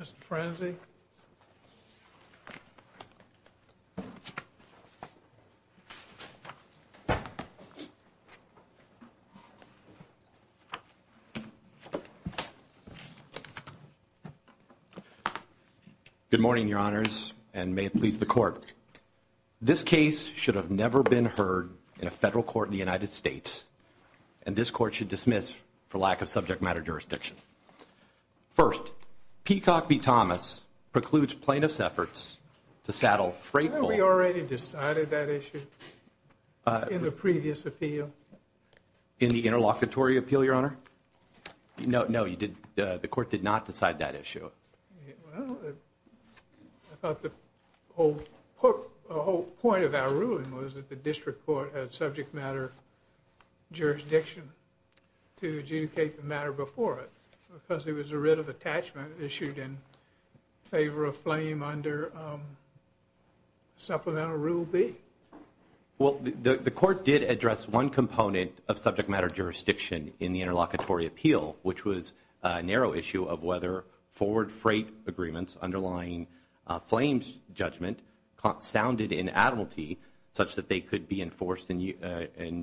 Mr. Frenzy. Good morning, Your Honors, and may it please the Court. This case should have never been heard in a federal court in the United States, and this court should dismiss for lack of subject matter jurisdiction. First, Peacock v. Thomas precludes plaintiff's efforts to saddle freight- Haven't we already decided that issue in the previous appeal? In the interlocutory appeal, Your Honor? No, no, you did, the Court did not decide that issue. Well, I thought the whole point of our ruling was that the District Court had subject matter jurisdiction to adjudicate the matter before it, because there was a writ of attachment issued in favor of FLAME under Supplemental Rule B. Well, the Court did address one component of subject matter jurisdiction in the interlocutory appeal, which was a narrow issue of whether forward freight agreements underlying FLAME's judgment sounded inadulty such that they could be enforced in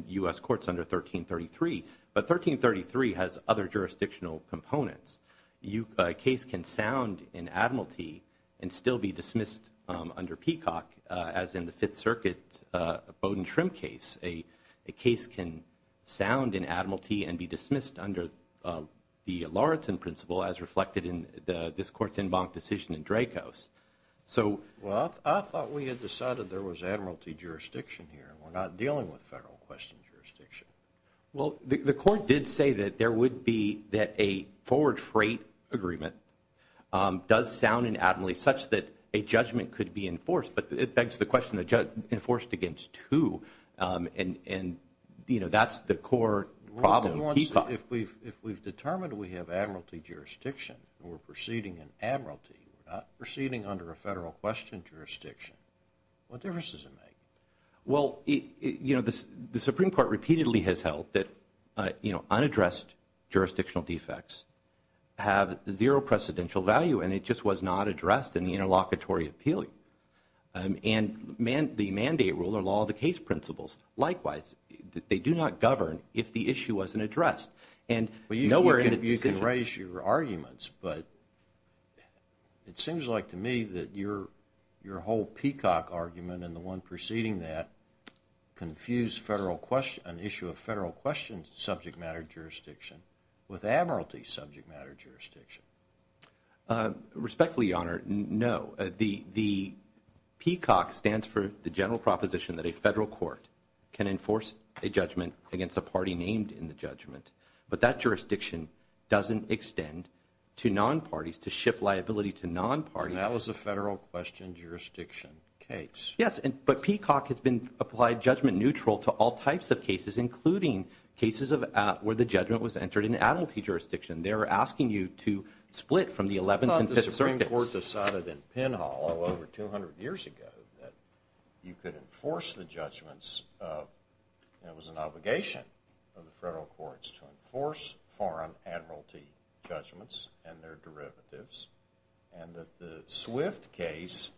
U.S. courts under 1333, but 1333 has other jurisdictional components. A case can sound inadulty and still be dismissed under Peacock, as in the Fifth Circuit Bowdoin Shrimp case. A case can sound inadulty and be dismissed under the Lauritzen principle, as reflected in this Court's en banc decision in Dracos. Well, I thought we had decided there was admiralty jurisdiction here. We're not dealing with federal question jurisdiction. Well, the Court did say that there would be that a forward freight agreement does sound inadulty such that a judgment could be enforced, but it begs the question, enforced against who? And, you know, that's the core problem, Peacock. If we've determined we have admiralty jurisdiction and we're proceeding in admiralty, we're not proceeding under a federal question jurisdiction, what difference does it make? Well, you know, the Supreme Court repeatedly has held that, you know, unaddressed jurisdictional defects have zero precedential value, and it just was not addressed in the interlocutory appeal. And the mandate rule or law of the case principles, likewise, they do not govern if the issue wasn't addressed. And nowhere in the decision... You can raise your arguments, but it seems like to me that your whole Peacock argument and the one preceding that confused federal question... an issue of federal question subject matter jurisdiction with admiralty subject matter jurisdiction. Respectfully, Your Honor, no. The Peacock stands for the general proposition that a federal court can enforce a judgment against a party named in the judgment, but that jurisdiction doesn't extend to non-parties to shift liability to non-parties. That was a federal question jurisdiction case. Yes, but Peacock has been applied judgment neutral to all types of cases, including cases where the judgment was entered in admiralty jurisdiction. They're asking you to split from the 11th and 5th circuits. I thought the Supreme Court decided in Penhall over 200 years ago that you could enforce the judgments of... It was an obligation of the federal courts to enforce foreign admiralty judgments and their derivatives, and that the Swift case,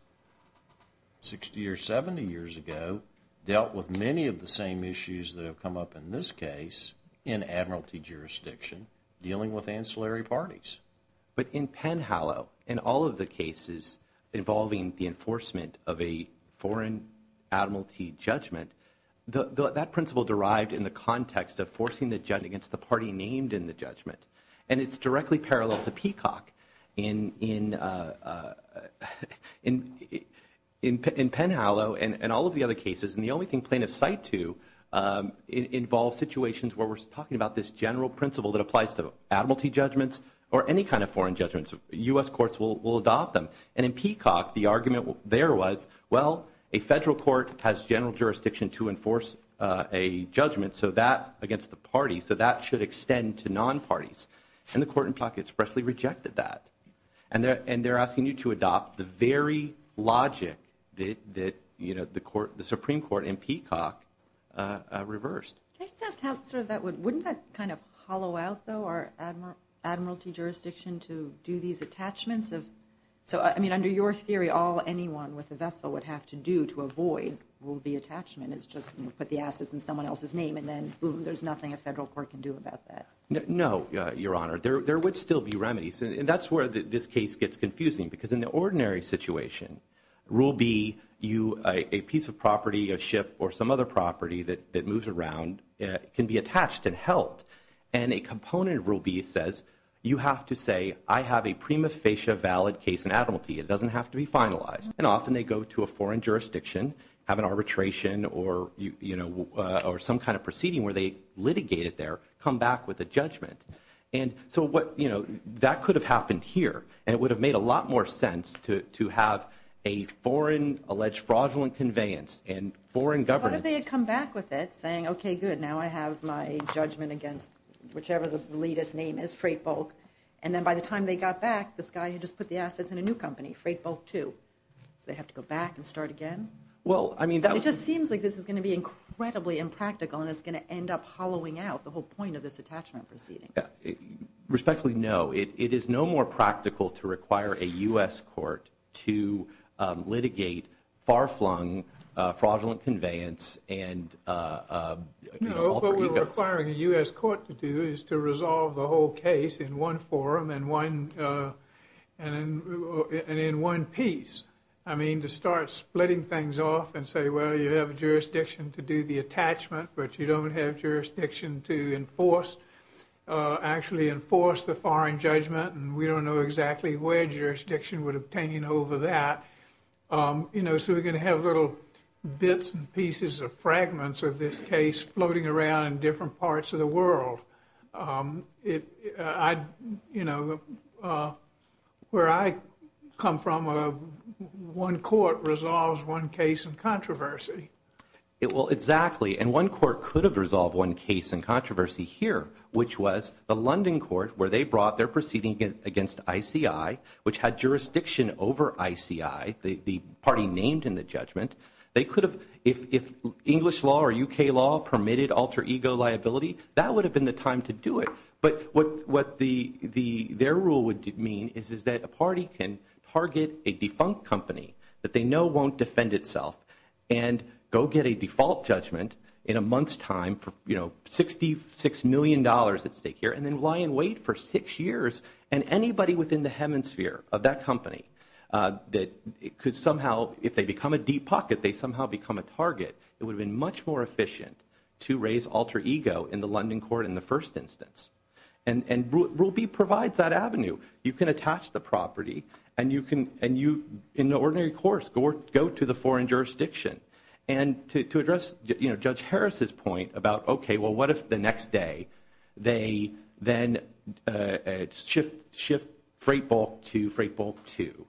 60 or 70 years ago, dealt with many of the same issues that have come up in this case in admiralty jurisdiction, dealing with ancillary parties. But in Penhallow, in all of the cases involving the enforcement of a foreign admiralty judgment, that principle derived in the context of forcing the judgment against the party named in the judgment, and it's directly parallel to Peacock. In Penhallow and all of the other cases, and the only thing plaintiffs cite to involves situations where we're talking about this general principle that applies to admiralty judgments or any kind of foreign judgments. U.S. courts will adopt them. And in Peacock, the argument there was, well, a federal court has general jurisdiction to enforce a judgment against the party, so that should extend to non-parties. And the court in Peacock expressly rejected that. And they're asking you to adopt the very logic that the Supreme Court in Peacock reversed. Can I just ask how sort of that would... Wouldn't that kind of hollow out, though, our admiralty jurisdiction to do these attachments of... So, I mean, under your theory, all anyone with a vessel would have to do to avoid will be attachment is just put the assets in someone else's name, and then, boom, there's nothing a federal court can do about that. No, Your Honor. There would still be remedies. And that's where this case gets confusing because in the ordinary situation, rule B, a piece of property, a ship, or some other property that moves around can be attached and held. And a component of rule B says you have to say, I have a prima facie valid case in admiralty. It doesn't have to be finalized. And often, they go to a foreign jurisdiction, have an arbitration or some kind of proceeding where they litigate it there, come back with a judgment. And so what, you know, that could have happened here, and it would have made a lot more sense to have a foreign alleged fraudulent conveyance and foreign governance. What if they had come back with it, saying, okay, good, now I have my judgment against whichever the leader's name is, Freight Bulk. And then by the time they got back, this guy had just put the assets in a new company, Freight Bulk 2. So they have to go back and start again? Well, I mean, that was... It just seems like this is going to be incredibly impractical and it's going to end up hollowing out the whole point of this attachment proceeding. Respectfully, no. It is no more practical to require a U.S. court to litigate far-flung fraudulent conveyance and... No, what we're requiring a U.S. court to do is to resolve the whole case in one forum and in one piece. I mean, to start splitting things off and say, well, you have a jurisdiction to do the attachment, but you don't have jurisdiction to enforce, actually enforce the foreign judgment, and we don't know exactly where jurisdiction would obtain over that. You know, so we're going to have little bits and pieces of fragments of this case floating around in different parts of the world. Where I come from, one court resolves one case in controversy. Well, exactly. And one court could have resolved one case in controversy here, which was the London court, where they brought their proceeding against ICI, which had jurisdiction over ICI, the party named in the judgment. They could have, if English law or U.K. law permitted alter-ego liability, that would have been the time to do it. But what their rule would mean is that a party can target a defunct company that they know won't defend itself and go get a default judgment in a month's time for $66 million at stake here and then lie in wait for six years. And anybody within the hemisphere of that company that could somehow, if they become a deep pocket, they somehow become a target, it would have been much more efficient to raise alter-ego in the London court in the first instance. And Rule B provides that avenue. You can attach the property and you can, go to the foreign jurisdiction. And to address Judge Harris's point about, okay, well, what if the next day they then shift freight bulk to freight bulk two?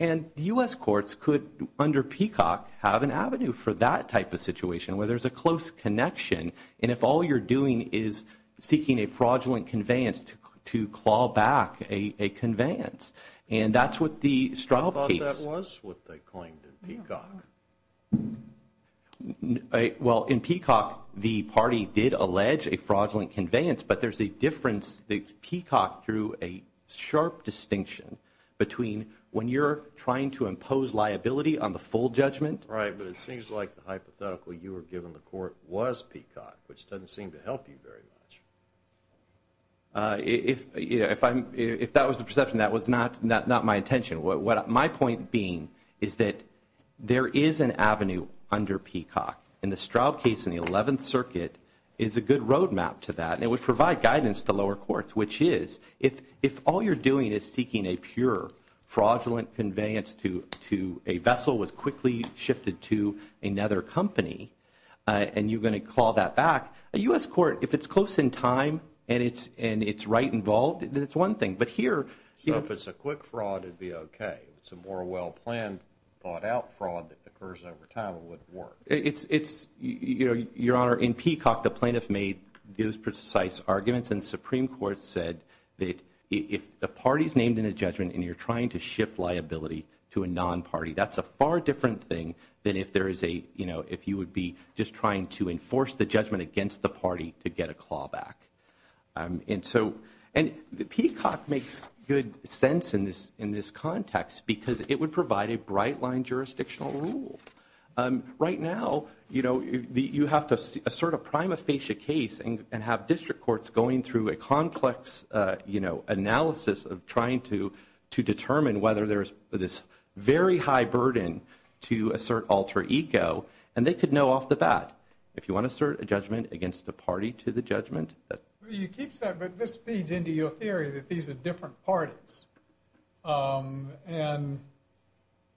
And U.S. courts could, under Peacock, have an avenue for that type of situation where there's a close connection and if all you're doing is seeking a fraudulent conveyance to claw back a conveyance. And that's what the Straub case. That was what they claimed in Peacock. Well, in Peacock, the party did allege a fraudulent conveyance, but there's a difference. The Peacock drew a sharp distinction between when you're trying to impose liability on the full judgment. Right, but it seems like the hypothetical you were given the court was Peacock, which doesn't seem to help you very much. If that was the perception, that was not my intention. My point being is that there is an avenue under Peacock. And the Straub case in the 11th Circuit is a good roadmap to that. And it would provide guidance to lower courts, which is, if all you're doing is seeking a pure fraudulent conveyance to a vessel was quickly shifted to another company and you're gonna call that back, a U.S. court, if it's close in time and it's right involved, then it's one thing. But here, you know- If it's a quick fraud, it'd be okay. If it's a more well-planned, thought-out fraud that occurs over time, it wouldn't work. It's, you know, Your Honor, in Peacock, the plaintiff made those precise arguments and the Supreme Court said that if the party's named in a judgment and you're trying to shift liability to a non-party, that's a far different thing than if there is a, you know, if you would be just trying to enforce the judgment against the party to get a claw back. And so, and Peacock makes good sense in this context because it would provide a bright-line jurisdictional rule. Right now, you know, you have to assert a prima facie case and have district courts going through a complex, you know, analysis of trying to determine whether there's this very high burden to assert alter ego, and they could know off the bat, if you wanna assert a judgment against the party to the judgment, but you keep that, but this feeds into your theory that these are different parties. And,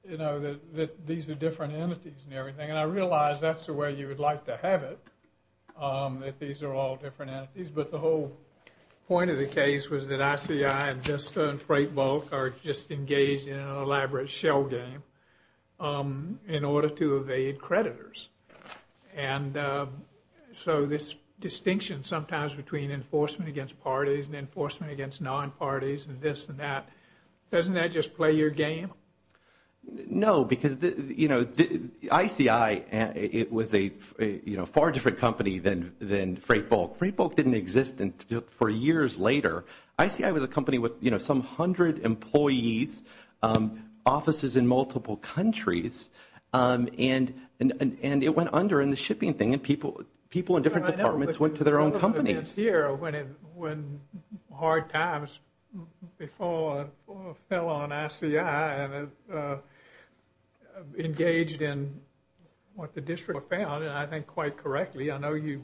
you know, that these are different entities and everything, and I realize that's the way you would like to have it, that these are all different entities, but the whole point of the case was that ICI and Vista and Freightbulk are just engaged in an elaborate shell game in order to evade creditors. And so, this distinction sometimes between enforcement against parties and enforcement against non-parties and this and that, doesn't that just play your game? No, because, you know, ICI, it was a, you know, far different company than Freightbulk. Freightbulk didn't exist until four years later. ICI was a company with, you know, some hundred employees, offices in multiple countries, and it went under in the shipping thing, and people in different departments went to their own companies. I know, but it's here when hard times before fell on ICI and engaged in what the district found, and I think quite correctly, I know you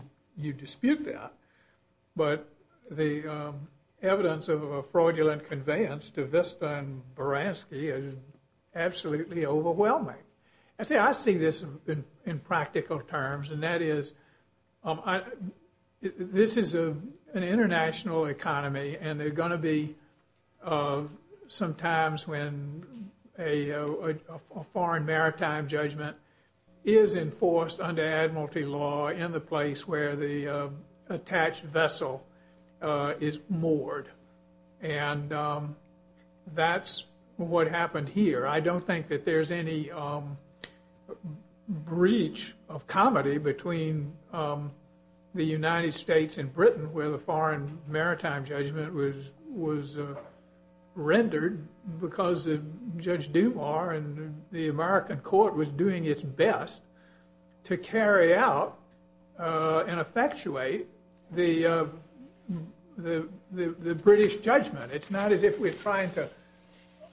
dispute that, but the evidence of a fraudulent conveyance to Vista and Baranski is absolutely overwhelming. I say, I see this in practical terms, and that is, this is an international economy, and there are gonna be some times when a foreign maritime judgment is enforced under admiralty law in the place where the attached vessel is moored, and that's what happened here. I don't think that there's any breach of comedy between the United States and Britain where the foreign maritime judgment was rendered because of Judge Dumas and the American court was doing its best to carry out and effectuate the British judgment. It's not as if we're trying to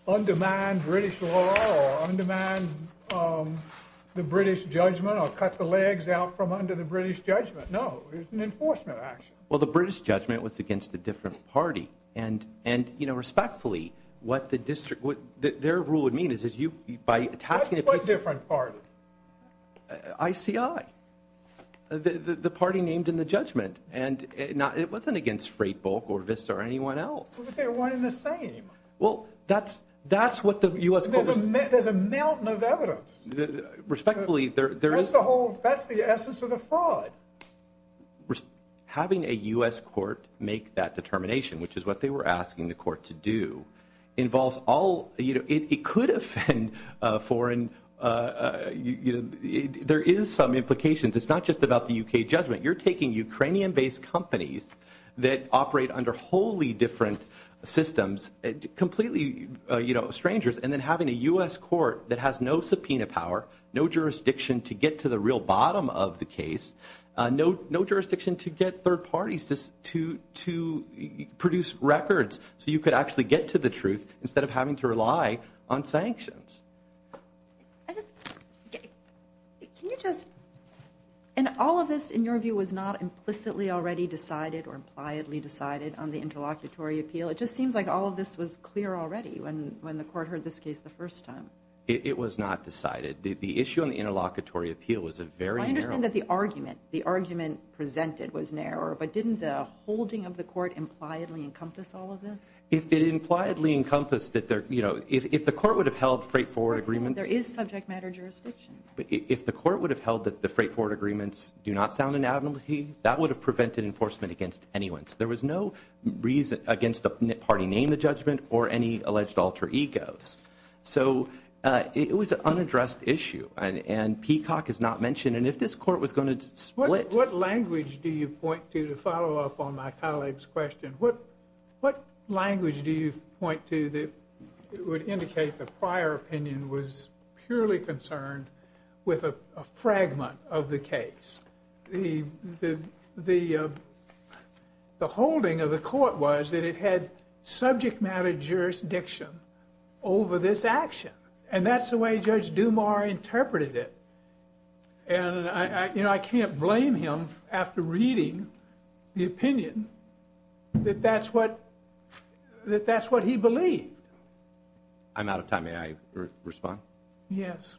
undermine British law or undermine the British judgment or cut the legs out from under the British judgment. No, it's an enforcement action. Well, the British judgment was against a different party, and respectfully, what their rule would mean is by attaching a piece of- What different party? ICI, the party named in the judgment, and it wasn't against Freightbulk or Vista or anyone else. But they're one in the same. Well, that's what the U.S. court was- There's a mountain of evidence. Respectfully, there is- That's the whole, that's the essence of the fraud. Having a U.S. court make that determination, which is what they were asking the court to do, involves all, you know, it could offend foreign, there is some implications. It's not just about the U.K. judgment. You're taking Ukrainian-based companies that operate under wholly different systems, completely, you know, strangers, and then having a U.S. court that has no subpoena power, no jurisdiction to get to the real bottom of the case, no jurisdiction to get third parties to produce records so you could actually get to the truth instead of having to rely on sanctions. Can you just, and all of this, in your view, was not implicitly already decided or impliedly decided on the interlocutory appeal? It just seems like all of this was clear already when the court heard this case the first time. It was not decided. The issue on the interlocutory appeal was a very narrow- I understand that the argument, the argument presented was narrow, but didn't the holding of the court impliedly encompass all of this? If it impliedly encompassed that there, you know, if the court would have held straightforward agreements- There is subject matter jurisdiction. If the court would have held that the straightforward agreements do not sound inadmissible, that would have prevented enforcement against anyone. So there was no reason against the party name, the judgment, or any alleged alter egos. So it was an unaddressed issue, and Peacock is not mentioned, and if this court was going to split- What language do you point to to follow up on my colleague's question? What language do you point to that would indicate the prior opinion was purely concerned with a fragment of the case? The holding of the court was that it had subject matter jurisdiction over this action, and that's the way Judge Dumas interpreted it. And, you know, I can't blame him after reading the opinion that that's what he believed. I'm out of time. May I respond? Yes.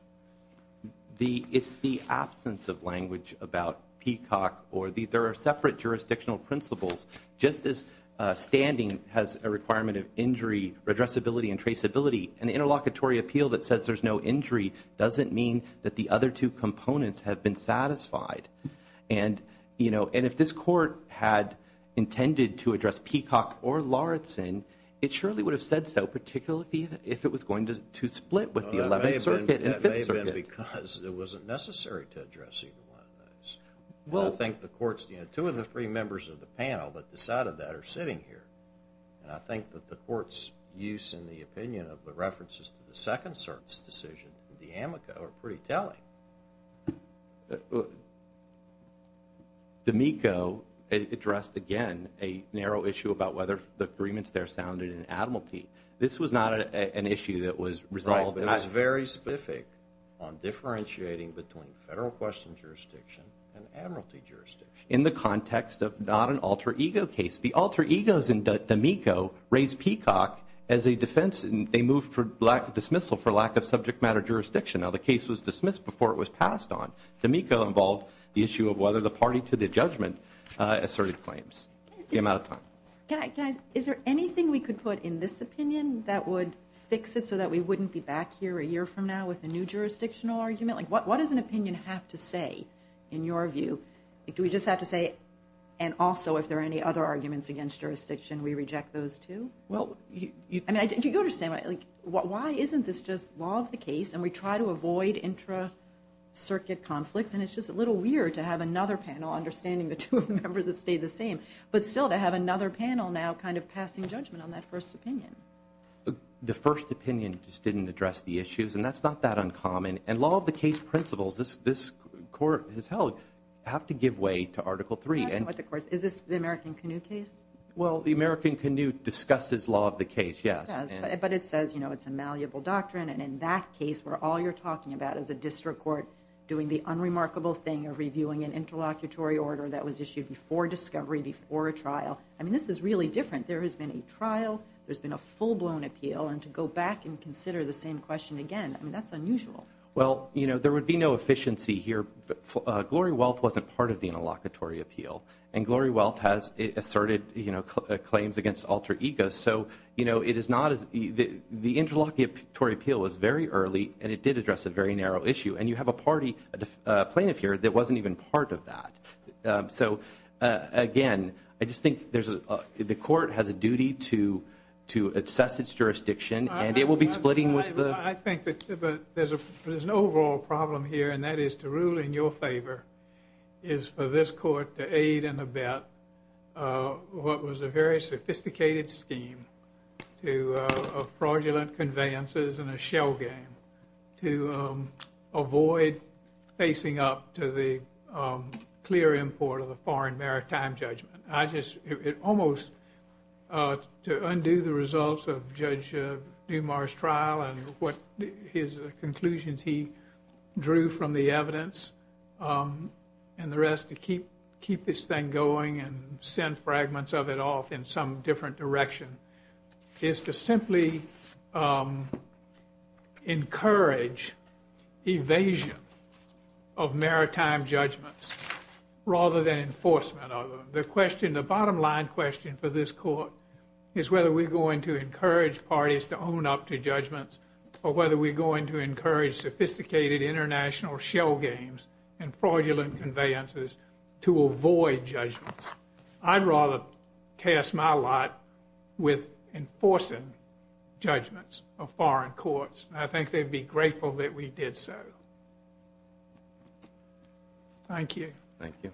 It's the absence of language about Peacock, or there are separate jurisdictional principles. Just as standing has a requirement of injury, redressability, and traceability, an interlocutory appeal that says there's no injury doesn't mean that the other two components have been satisfied. And, you know, and if this court had intended to address Peacock or Lauritsen, it surely would have said so, particularly if it was going to split with the 11th Circuit and 5th Circuit. It may have been because it wasn't necessary to address either one of those. And I think the court's, you know, two of the three members of the panel that decided that are sitting here, and I think that the court's use and the opinion of the references to the second cert's decision, the amico, are pretty telling. The amico addressed, again, a narrow issue about whether the agreements there sounded in admiralty. This was not an issue that was resolved. Right, but it was very specific on differentiating between federal question jurisdiction and admiralty jurisdiction. In the context of not an alter ego case. The alter egos in the amico raised Peacock as a defense, and they moved for dismissal for lack of subject matter jurisdiction. Now, the case was dismissed before it was passed on. The amico involved the issue of whether the party to the judgment asserted claims. The amount of time. Can I, is there anything we could put in this opinion that would fix it so that we wouldn't be back here a year from now with a new jurisdictional argument? Like, what does an opinion have to say, in your view? Do we just have to say, and also, if there are any other arguments against jurisdiction, we reject those too? Well, I mean, do you understand? Why isn't this just law of the case, and we try to avoid intra-circuit conflicts, and it's just a little weird to have another panel understanding the two members have stayed the same, but still to have another panel now kind of passing judgment on that first opinion. The first opinion just didn't address the issues, and that's not that uncommon, and law of the case principles this court has held have to give way to article three. Is this the American Canoe case? Well, the American Canoe discusses law of the case, yes. But it says, you know, it's a malleable doctrine, and in that case, where all you're talking about is a district court doing the unremarkable thing of reviewing an interlocutory order that was issued before discovery, before a trial. I mean, this is really different. There has been a trial, there's been a full-blown appeal, and to go back and consider the same question again, I mean, that's unusual. Well, you know, there would be no efficiency here. Glory Wealth wasn't part of the interlocutory appeal, and Glory Wealth has asserted, you know, claims against alter egos. So, you know, it is not as... The interlocutory appeal was very early, and it did address a very narrow issue. And you have a party plaintiff here that wasn't even part of that. So, again, I just think there's... The court has a duty to assess its jurisdiction, and it will be splitting with the... I think that there's an overall problem here, and that is to rule in your favor is for this court to aid and abet what was a very sophisticated scheme of fraudulent conveyances and a shell game to avoid facing up to the clear import of the foreign maritime judgment. I just... It almost... To undo the results of Judge Dumas' trial and what his conclusions he drew from the evidence and the rest to keep this thing going and send fragments of it off in some different direction is to simply encourage evasion of maritime judgments rather than enforcement of them. The question, the bottom-line question for this court is whether we're going to encourage parties to own up to judgments or whether we're going to encourage sophisticated international shell games and fraudulent conveyances to avoid judgments. I'd rather cast my light with enforcing judgments of foreign courts, and I think they'd be grateful that we did so. Thank you. Thank you.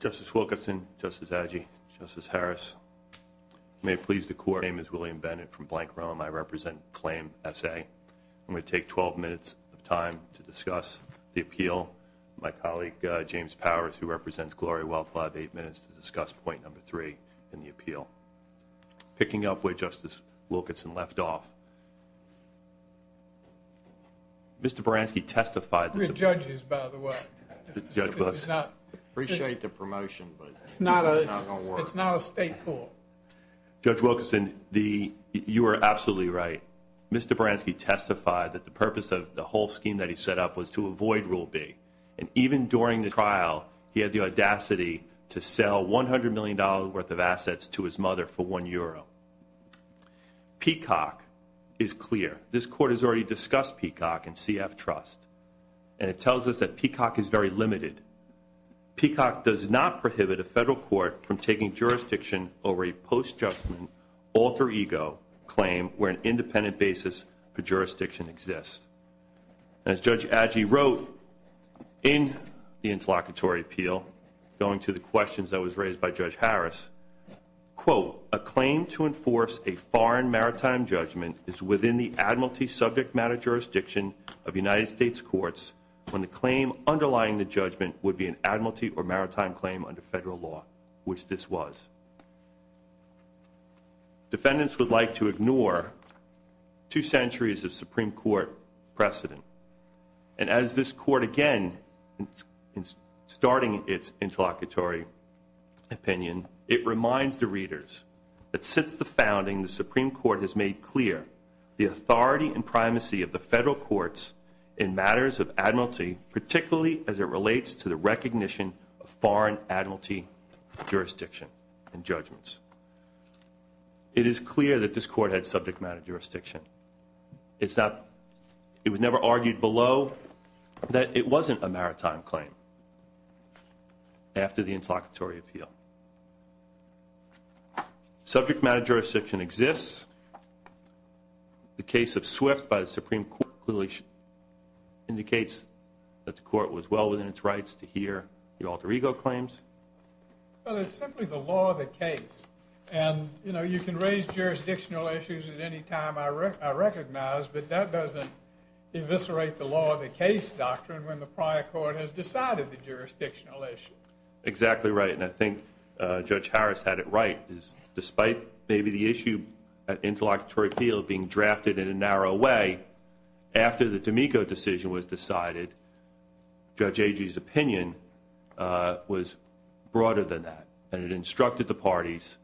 Justice Wilkerson, Justice Adjaye, Justice Harris, may it please the Court, my name is William Bennett from Blank, Rome. I represent Claim S.A. I'm going to take 12 minutes of time to discuss the appeal. My colleague James Powers, who represents Gloria Wealth, will have eight minutes to discuss point number three in the appeal. Picking up where Justice Wilkerson left off, Mr. Baranski testified... We're judges, by the way. Judge Wilkerson. Appreciate the promotion, but it's not going to work. It's not a state court. Judge Wilkerson, you are absolutely right. Mr. Baranski testified that the purpose of the whole scheme that he set up was to avoid Rule B, and even during the trial, he had the audacity to sell $100 million worth of assets to his mother for one euro. Peacock is clear. This Court has already discussed Peacock and CF Trust, and it tells us that Peacock is very limited. Peacock does not prohibit a federal court from taking jurisdiction over a post-judgment alter-ego claim where an independent basis for jurisdiction exists. As Judge Adjaye wrote in the interlocutory appeal, going to the questions that was raised by Judge Harris, quote, a claim to enforce a foreign maritime judgment is within the admiralty subject matter jurisdiction of United States courts when the claim underlying the judgment would be an admiralty or maritime claim under federal law, which this was. Defendants would like to ignore two centuries of Supreme Court precedent. And as this Court, again, in starting its interlocutory opinion, it reminds the readers that since the founding, the Supreme Court has made clear the authority and primacy of the federal courts in matters of admiralty, particularly as it relates to the recognition of foreign admiralty jurisdiction and judgments. It is clear that this Court had subject matter jurisdiction. It was never argued below that it wasn't a maritime claim after the interlocutory appeal. Subject matter jurisdiction exists. The case of Swift by the Supreme Court clearly indicates that the Court was well within its rights to hear the alter ego claims. Well, it's simply the law of the case. And, you know, you can raise jurisdictional issues at any time I recognize, but that doesn't eviscerate the law of the case doctrine when the prior Court has decided the jurisdictional issue. Exactly right, and I think Judge Harris had it right. Despite maybe the issue at interlocutory appeal being drafted in a narrow way, after the D'Amico decision was decided, Judge Agee's opinion was broader than that. And it instructed the parties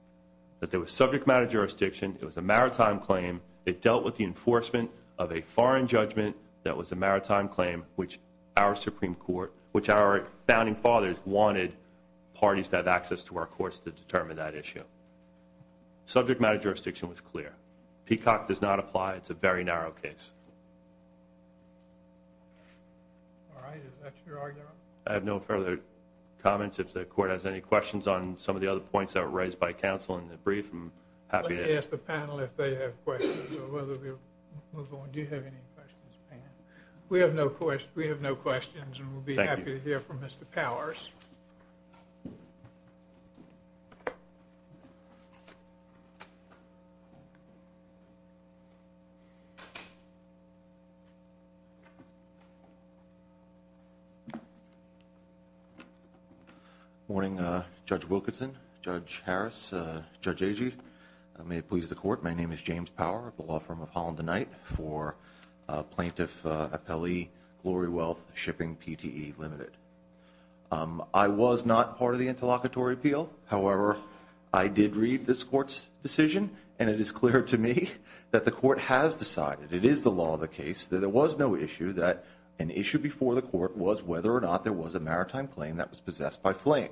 that there was subject matter jurisdiction, it was a maritime claim, it dealt with the enforcement of a foreign judgment that was a maritime claim which our founding fathers wanted parties to have access to our courts to determine that issue. Subject matter jurisdiction was clear. Peacock does not apply. It's a very narrow case. All right, is that your argument? I have no further comments. If the Court has any questions on some of the other points that were raised by counsel in the brief, I'm happy to... Let me ask the panel if they have questions or whether we'll move on. We do have any questions. We have no questions, and we'll be happy to hear from Mr. Powers. Morning, Judge Wilkinson, Judge Harris, Judge Agee. May it please the Court, my name is James Power of the law firm of Holland and Knight for Plaintiff Appellee Glory Wealth Shipping, PTE Limited. I was not part of the interlocutory appeal. However, I did read this Court's decision, and it is clear to me that the Court has decided, it is the law of the case, that there was no issue, that an issue before the Court was whether or not there was a maritime claim that was possessed by flame.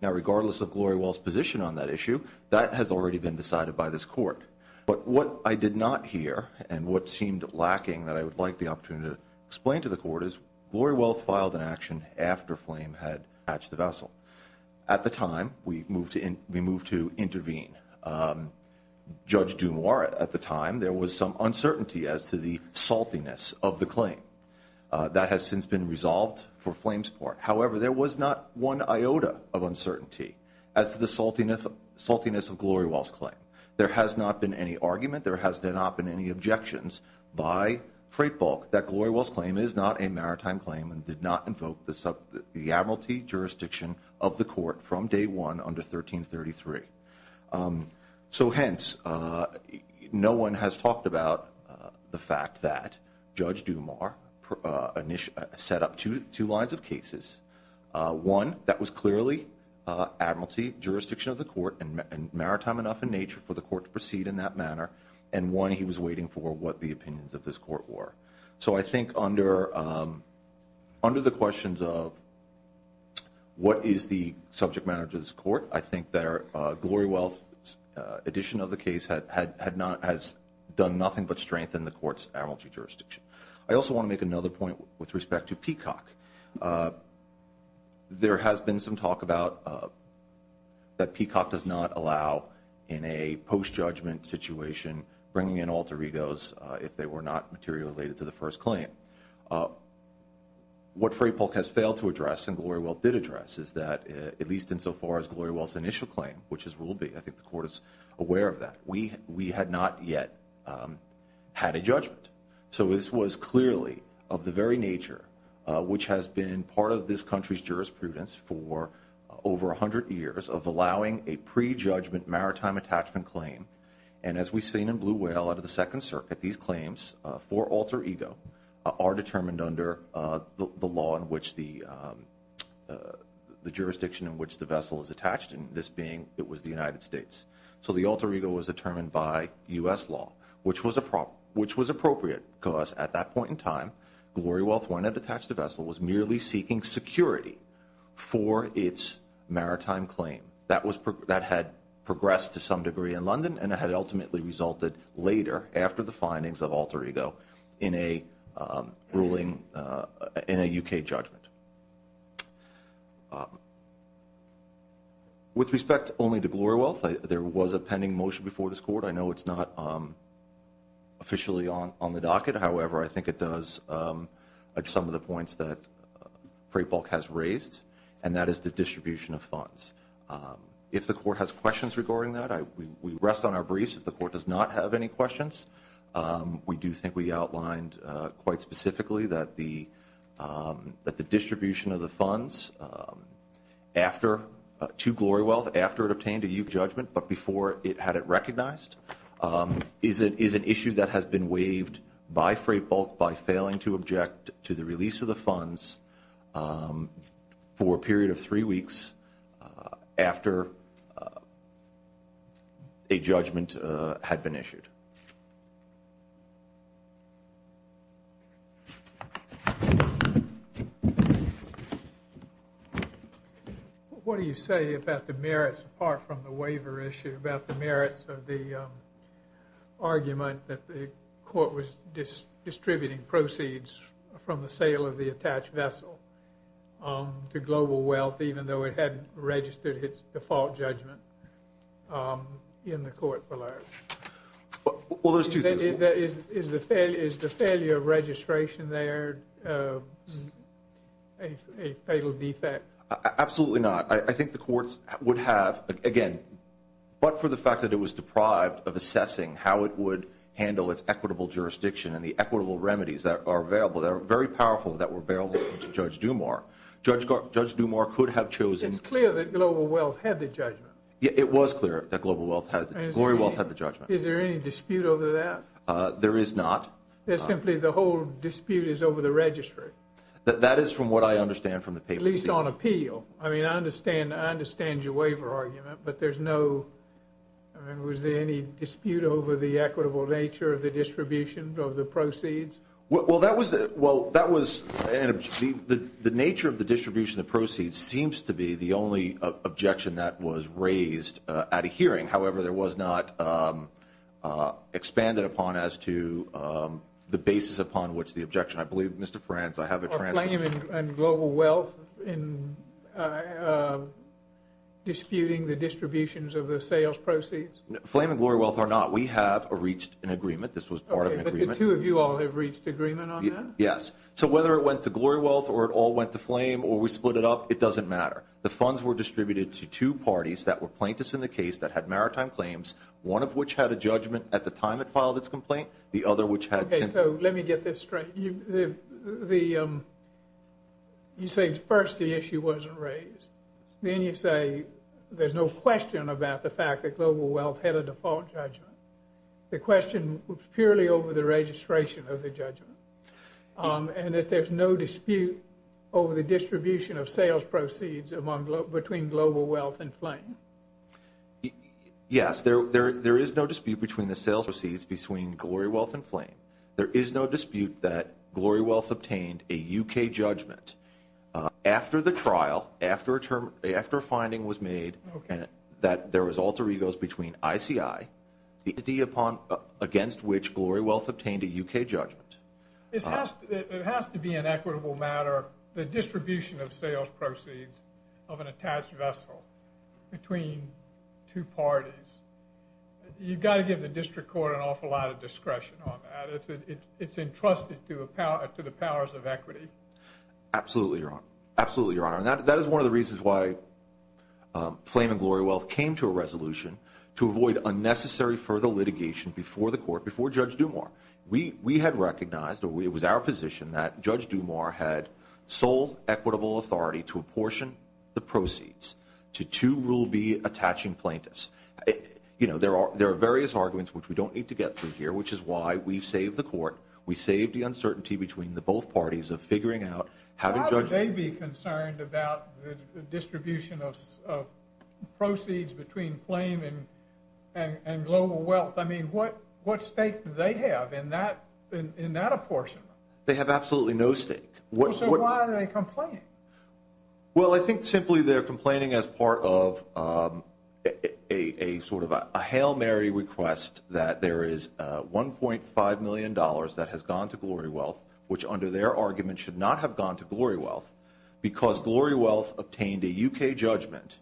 Now, regardless of Glory Wealth's position on that issue, that has already been decided by this Court. But what I did not hear, and what seemed lacking that I would like the opportunity to explain to the Court, is Glory Wealth filed an action after flame had hatched the vessel. At the time, we moved to intervene. Judge Dumour, at the time, there was some uncertainty as to the saltiness of the claim. That has since been resolved for flame support. However, there was not one iota of uncertainty as to the saltiness of Glory Wealth's claim. There has not been any argument, there has not been any objections by freight bulk that Glory Wealth's claim is not a maritime claim and did not invoke the admiralty jurisdiction of the Court from day one under 1333. So hence, no one has talked about the fact that Judge Dumour set up two lines of cases. One, that was clearly admiralty jurisdiction of the Court and maritime enough in nature for the Court to proceed in that manner. And one, he was waiting for what the opinions of this Court were. So I think under the questions of what is the subject matter to this Court, I think that Glory Wealth's addition of the case has done nothing but strengthen the Court's admiralty jurisdiction. There has been some talk that Peacock does not allow in a post-judgment situation bringing in alter egos if they were not materially related to the first claim. What freight bulk has failed to address and Glory Wealth did address is that, at least insofar as Glory Wealth's initial claim, which is Rule B, I think the Court is aware of that, we had not yet had a judgment. So this was clearly of the very nature, which has been part of this country's jurisprudence for over 100 years, of allowing a pre-judgment maritime attachment claim. And as we've seen in Blue Whale under the Second Circuit, these claims for alter ego are determined under the law in which the jurisdiction in which the vessel is attached, and this being it was the United States. So the alter ego was determined by U.S. law, which was appropriate because at that point in time, Glory Wealth, when it attached the vessel, was merely seeking security for its maritime claim. That had progressed to some degree in London and had ultimately resulted later after the findings of alter ego in a ruling in a U.K. judgment. With respect only to Glory Wealth, there was a pending motion before this Court. I know it's not officially on the docket. However, I think it does add some of the points that Frey Bulk has raised, and that is the distribution of funds. If the Court has questions regarding that, we rest on our briefs. If the Court does not have any questions, we do think we outlined quite specifically that the distribution of the funds to Glory Wealth after it obtained a U.K. judgment but before it had it recognized is an issue that has been waived by Frey Bulk by failing to object to the release of the funds for a period of three weeks after a judgment had been issued. Thank you. What do you say about the merits, apart from the waiver issue, about the merits of the argument that the Court was distributing proceeds from the sale of the attached vessel to Glory Wealth even though it hadn't registered its default judgment in the Court for life? Well, there's two things. Is the failure of registration there a fatal defect? Absolutely not. I think the Courts would have, again, but for the fact that it was deprived of assessing how it would handle its equitable jurisdiction and the equitable remedies that are available, that are very powerful that were available to Judge Dumas. Judge Dumas could have chosen. It's clear that Global Wealth had the judgment. It was clear that Glory Wealth had the judgment. Is there any dispute over that? There is not. It's simply the whole dispute is over the registry. That is from what I understand from the paper. At least on appeal. I mean, I understand your waiver argument, but was there any dispute over the equitable nature of the distribution of the proceeds? Well, that was the nature of the distribution of the proceeds seems to be the only objection that was raised at a hearing. However, there was not expanded upon as to the basis upon which the objection. I believe, Mr. Frantz, I have a transcription. Are Flame and Global Wealth disputing the distributions of the sales proceeds? Flame and Glory Wealth are not. We have reached an agreement. This was part of an agreement. Did the two of you all have reached agreement on that? Yes. So whether it went to Glory Wealth or it all went to Flame or we split it up, it doesn't matter. The funds were distributed to two parties that were plaintiffs in the case that had maritime claims, one of which had a judgment at the time it filed its complaint, the other which had. Okay. So let me get this straight. You say first the issue wasn't raised. Then you say there's no question about the fact that Global Wealth had a default judgment. The question was purely over the registration of the judgment and that there's no dispute over the distribution of sales proceeds between Global Wealth and Flame. Yes, there is no dispute between the sales proceeds between Glory Wealth and Flame. There is no dispute that Glory Wealth obtained a U.K. judgment after the trial, after a finding was made that there was alter egos between ICI, the entity against which Glory Wealth obtained a U.K. judgment. It has to be an equitable matter, the distribution of sales proceeds of an attached vessel between two parties. You've got to give the district court an awful lot of discretion on that. It's entrusted to the powers of equity. Absolutely, Your Honor. Absolutely, Your Honor. And that is one of the reasons why Flame and Glory Wealth came to a resolution to avoid unnecessary further litigation before the court, before Judge Dumas. We had recognized, or it was our position, that Judge Dumas had sole equitable authority to apportion the proceeds to two Rule B attaching plaintiffs. You know, there are various arguments which we don't need to get through here, which is why we saved the court. We saved the uncertainty between the both parties of figuring out how to judge. Why would they be concerned about the distribution of proceeds between Flame and Glory Wealth? I mean, what stake do they have in that apportionment? They have absolutely no stake. So why are they complaining? Well, I think simply they're complaining as part of a sort of a Hail Mary request that there is $1.5 million that has gone to Glory Wealth, which under their argument should not have gone to Glory Wealth, because Glory Wealth obtained a U.K. judgment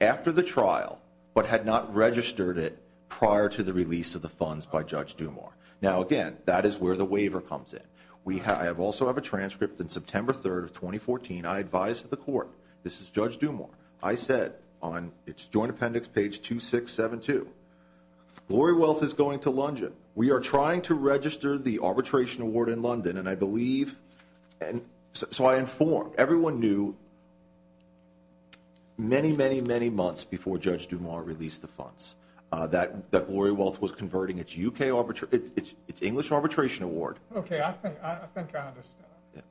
after the trial but had not registered it prior to the release of the funds by Judge Dumas. Now, again, that is where the waiver comes in. I also have a transcript. On September 3, 2014, I advised the court, this is Judge Dumas, I said on its joint appendix, page 2672, Glory Wealth is going to London. We are trying to register the arbitration award in London, and I believe, so I informed everyone knew many, many, many months before Judge Dumas released the funds that Glory Wealth was converting its English arbitration award. Okay, I think I understand.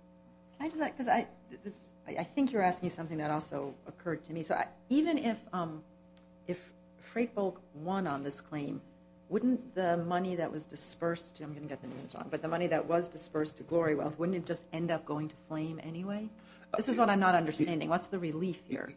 I think you're asking something that also occurred to me. So even if Freight Bulk won on this claim, wouldn't the money that was dispersed, I'm going to get the names wrong, but the money that was dispersed to Glory Wealth, wouldn't it just end up going to Flame anyway? This is what I'm not understanding. What's the relief here?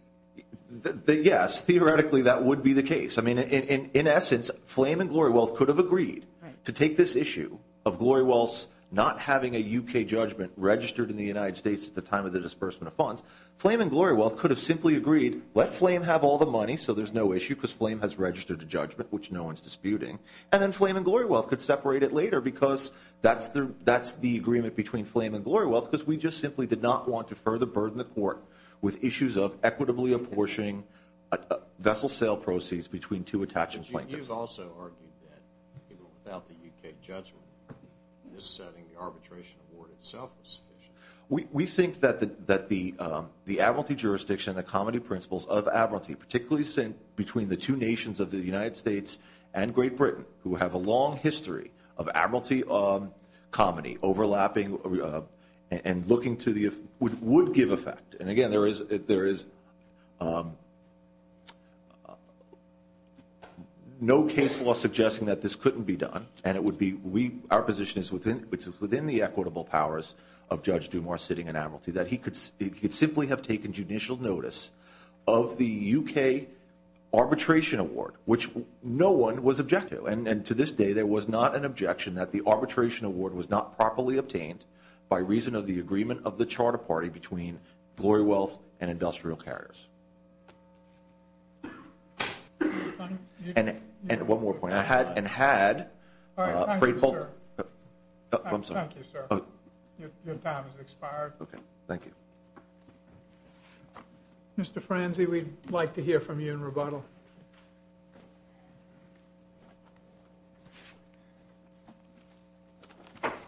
Yes, theoretically that would be the case. I mean, in essence, Flame and Glory Wealth could have agreed to take this issue of Glory Wealth not having a U.K. judgment registered in the United States at the time of the disbursement of funds. Flame and Glory Wealth could have simply agreed, let Flame have all the money so there's no issue because Flame has registered a judgment, which no one's disputing, and then Flame and Glory Wealth could separate it later because that's the agreement between Flame and Glory Wealth because we just simply did not want to further burden the court with issues of equitably apportioning vessel sale proceeds between two attaching plaintiffs. But you've also argued that even without the U.K. judgment in this setting, the arbitration award itself was sufficient. We think that the Admiralty jurisdiction, the comity principles of Admiralty, particularly between the two nations of the United States and Great Britain, who have a long history of Admiralty comity overlapping and looking to the, would give effect. And again, there is no case law suggesting that this couldn't be done, and it would be our position is within the equitable powers of Judge Dumas sitting in Admiralty that he could simply have taken judicial notice of the U.K. arbitration award, which no one was objective, and to this day there was not an objection that the arbitration award was not properly obtained by reason of the agreement of the charter party between Glory Wealth and industrial carriers. And one more point, I had and had. Thank you, sir. I'm sorry. Thank you, sir. Your time has expired. Okay. Thank you. Mr. Franze, we'd like to hear from you in rebuttal. Thank you.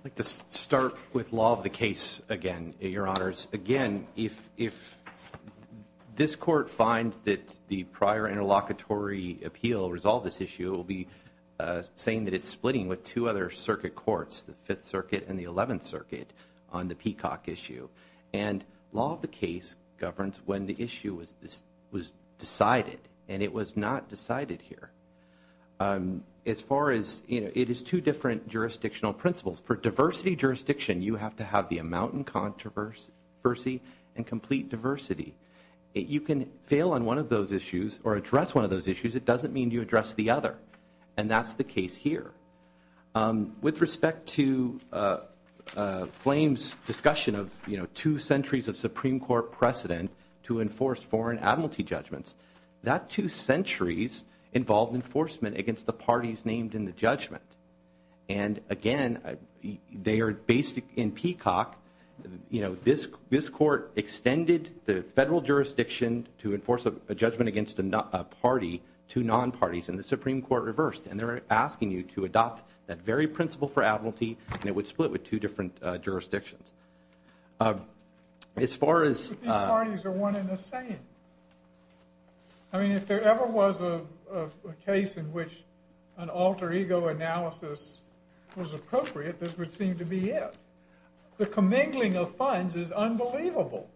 I'd like to start with law of the case again, Your Honors. Again, if this court finds that the prior interlocutory appeal resolved this issue, it will be saying that it's splitting with two other circuit courts, the Fifth Circuit and the Eleventh Circuit, on the Peacock issue. And law of the case governs when the issue was decided, and it was not decided here. As far as, you know, it is two different jurisdictional principles. For diversity jurisdiction, you have to have the amount and controversy and complete diversity. You can fail on one of those issues or address one of those issues. It doesn't mean you address the other, and that's the case here. With respect to Flame's discussion of, you know, two centuries of Supreme Court precedent to enforce foreign admiralty judgments, that two centuries involved enforcement against the parties named in the judgment. And, again, they are based in Peacock. You know, this court extended the federal jurisdiction to enforce a judgment against a party to non-parties, and the Supreme Court reversed. And they're asking you to adopt that very principle for admiralty, and it would split with two different jurisdictions. As far as – But these parties are one and the same. I mean, if there ever was a case in which an alter ego analysis was appropriate, this would seem to be it. The commingling of funds is unbelievable.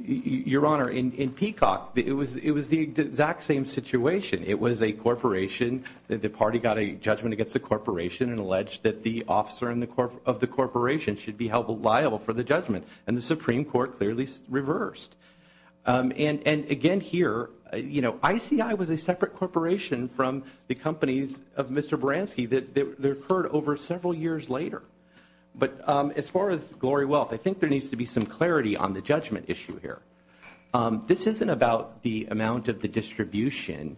Your Honor, in Peacock, it was the exact same situation. It was a corporation. The party got a judgment against the corporation and alleged that the officer of the corporation should be held liable for the judgment, and the Supreme Court clearly reversed. And, again, here, you know, ICI was a separate corporation from the companies of Mr. Baranski that occurred over several years later. But as far as Glory Wealth, I think there needs to be some clarity on the judgment issue here. This isn't about the amount of the distribution.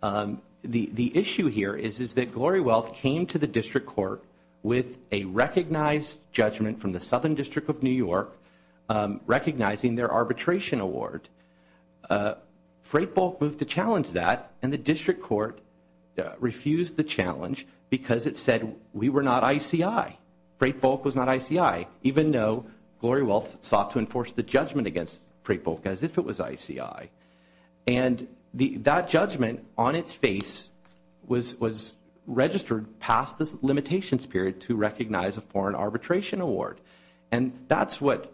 The issue here is that Glory Wealth came to the district court with a recognized judgment from the Southern District of New York, recognizing their arbitration award. Freight Bulk moved to challenge that, and the district court refused the challenge because it said we were not ICI. Freight Bulk was not ICI, even though Glory Wealth sought to enforce the judgment against Freight Bulk as if it was ICI. And that judgment, on its face, was registered past the limitations period to recognize a foreign arbitration award. And that's what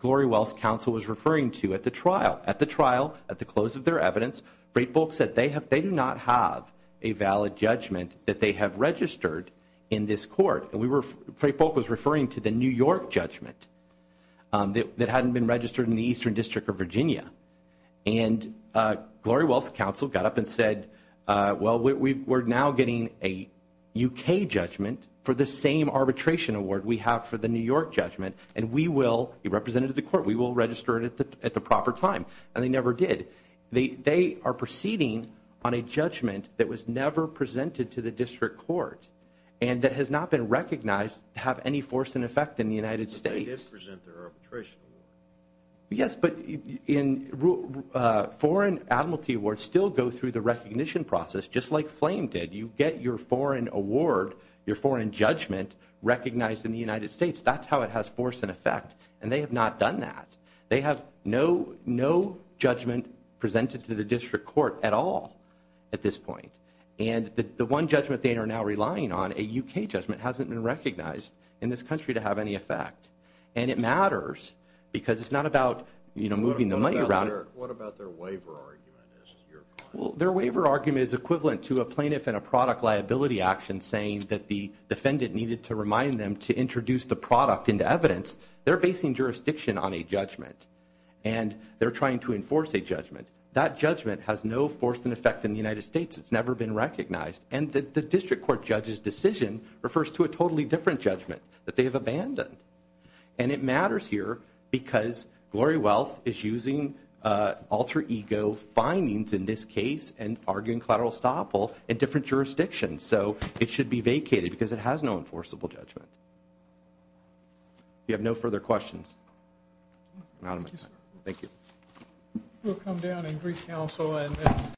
Glory Wealth's counsel was referring to at the trial. At the trial, at the close of their evidence, Freight Bulk said they do not have a valid judgment that they have registered in this court. And Freight Bulk was referring to the New York judgment that hadn't been registered in the Eastern District of Virginia. And Glory Wealth's counsel got up and said, well, we're now getting a U.K. judgment for the same arbitration award we have for the New York judgment, and we will, representative of the court, we will register it at the proper time. And they never did. They are proceeding on a judgment that was never presented to the district court and that has not been recognized to have any force in effect in the United States. But they did present their arbitration award. Yes, but foreign admiralty awards still go through the recognition process, just like Flame did. You get your foreign award, your foreign judgment, recognized in the United States. That's how it has force and effect. And they have not done that. They have no judgment presented to the district court at all at this point. And the one judgment they are now relying on, a U.K. judgment, hasn't been recognized in this country to have any effect. And it matters because it's not about moving the money around. What about their waiver argument? Their waiver argument is equivalent to a plaintiff in a product liability action saying that the defendant needed to remind them to introduce the product into evidence. They're basing jurisdiction on a judgment, and they're trying to enforce a judgment. That judgment has no force and effect in the United States. It's never been recognized. And the district court judge's decision refers to a totally different judgment that they have abandoned. And it matters here because Glory Wealth is using alter ego findings in this case and arguing collateral estoppel in different jurisdictions. So it should be vacated because it has no enforceable judgment. We have no further questions. Thank you.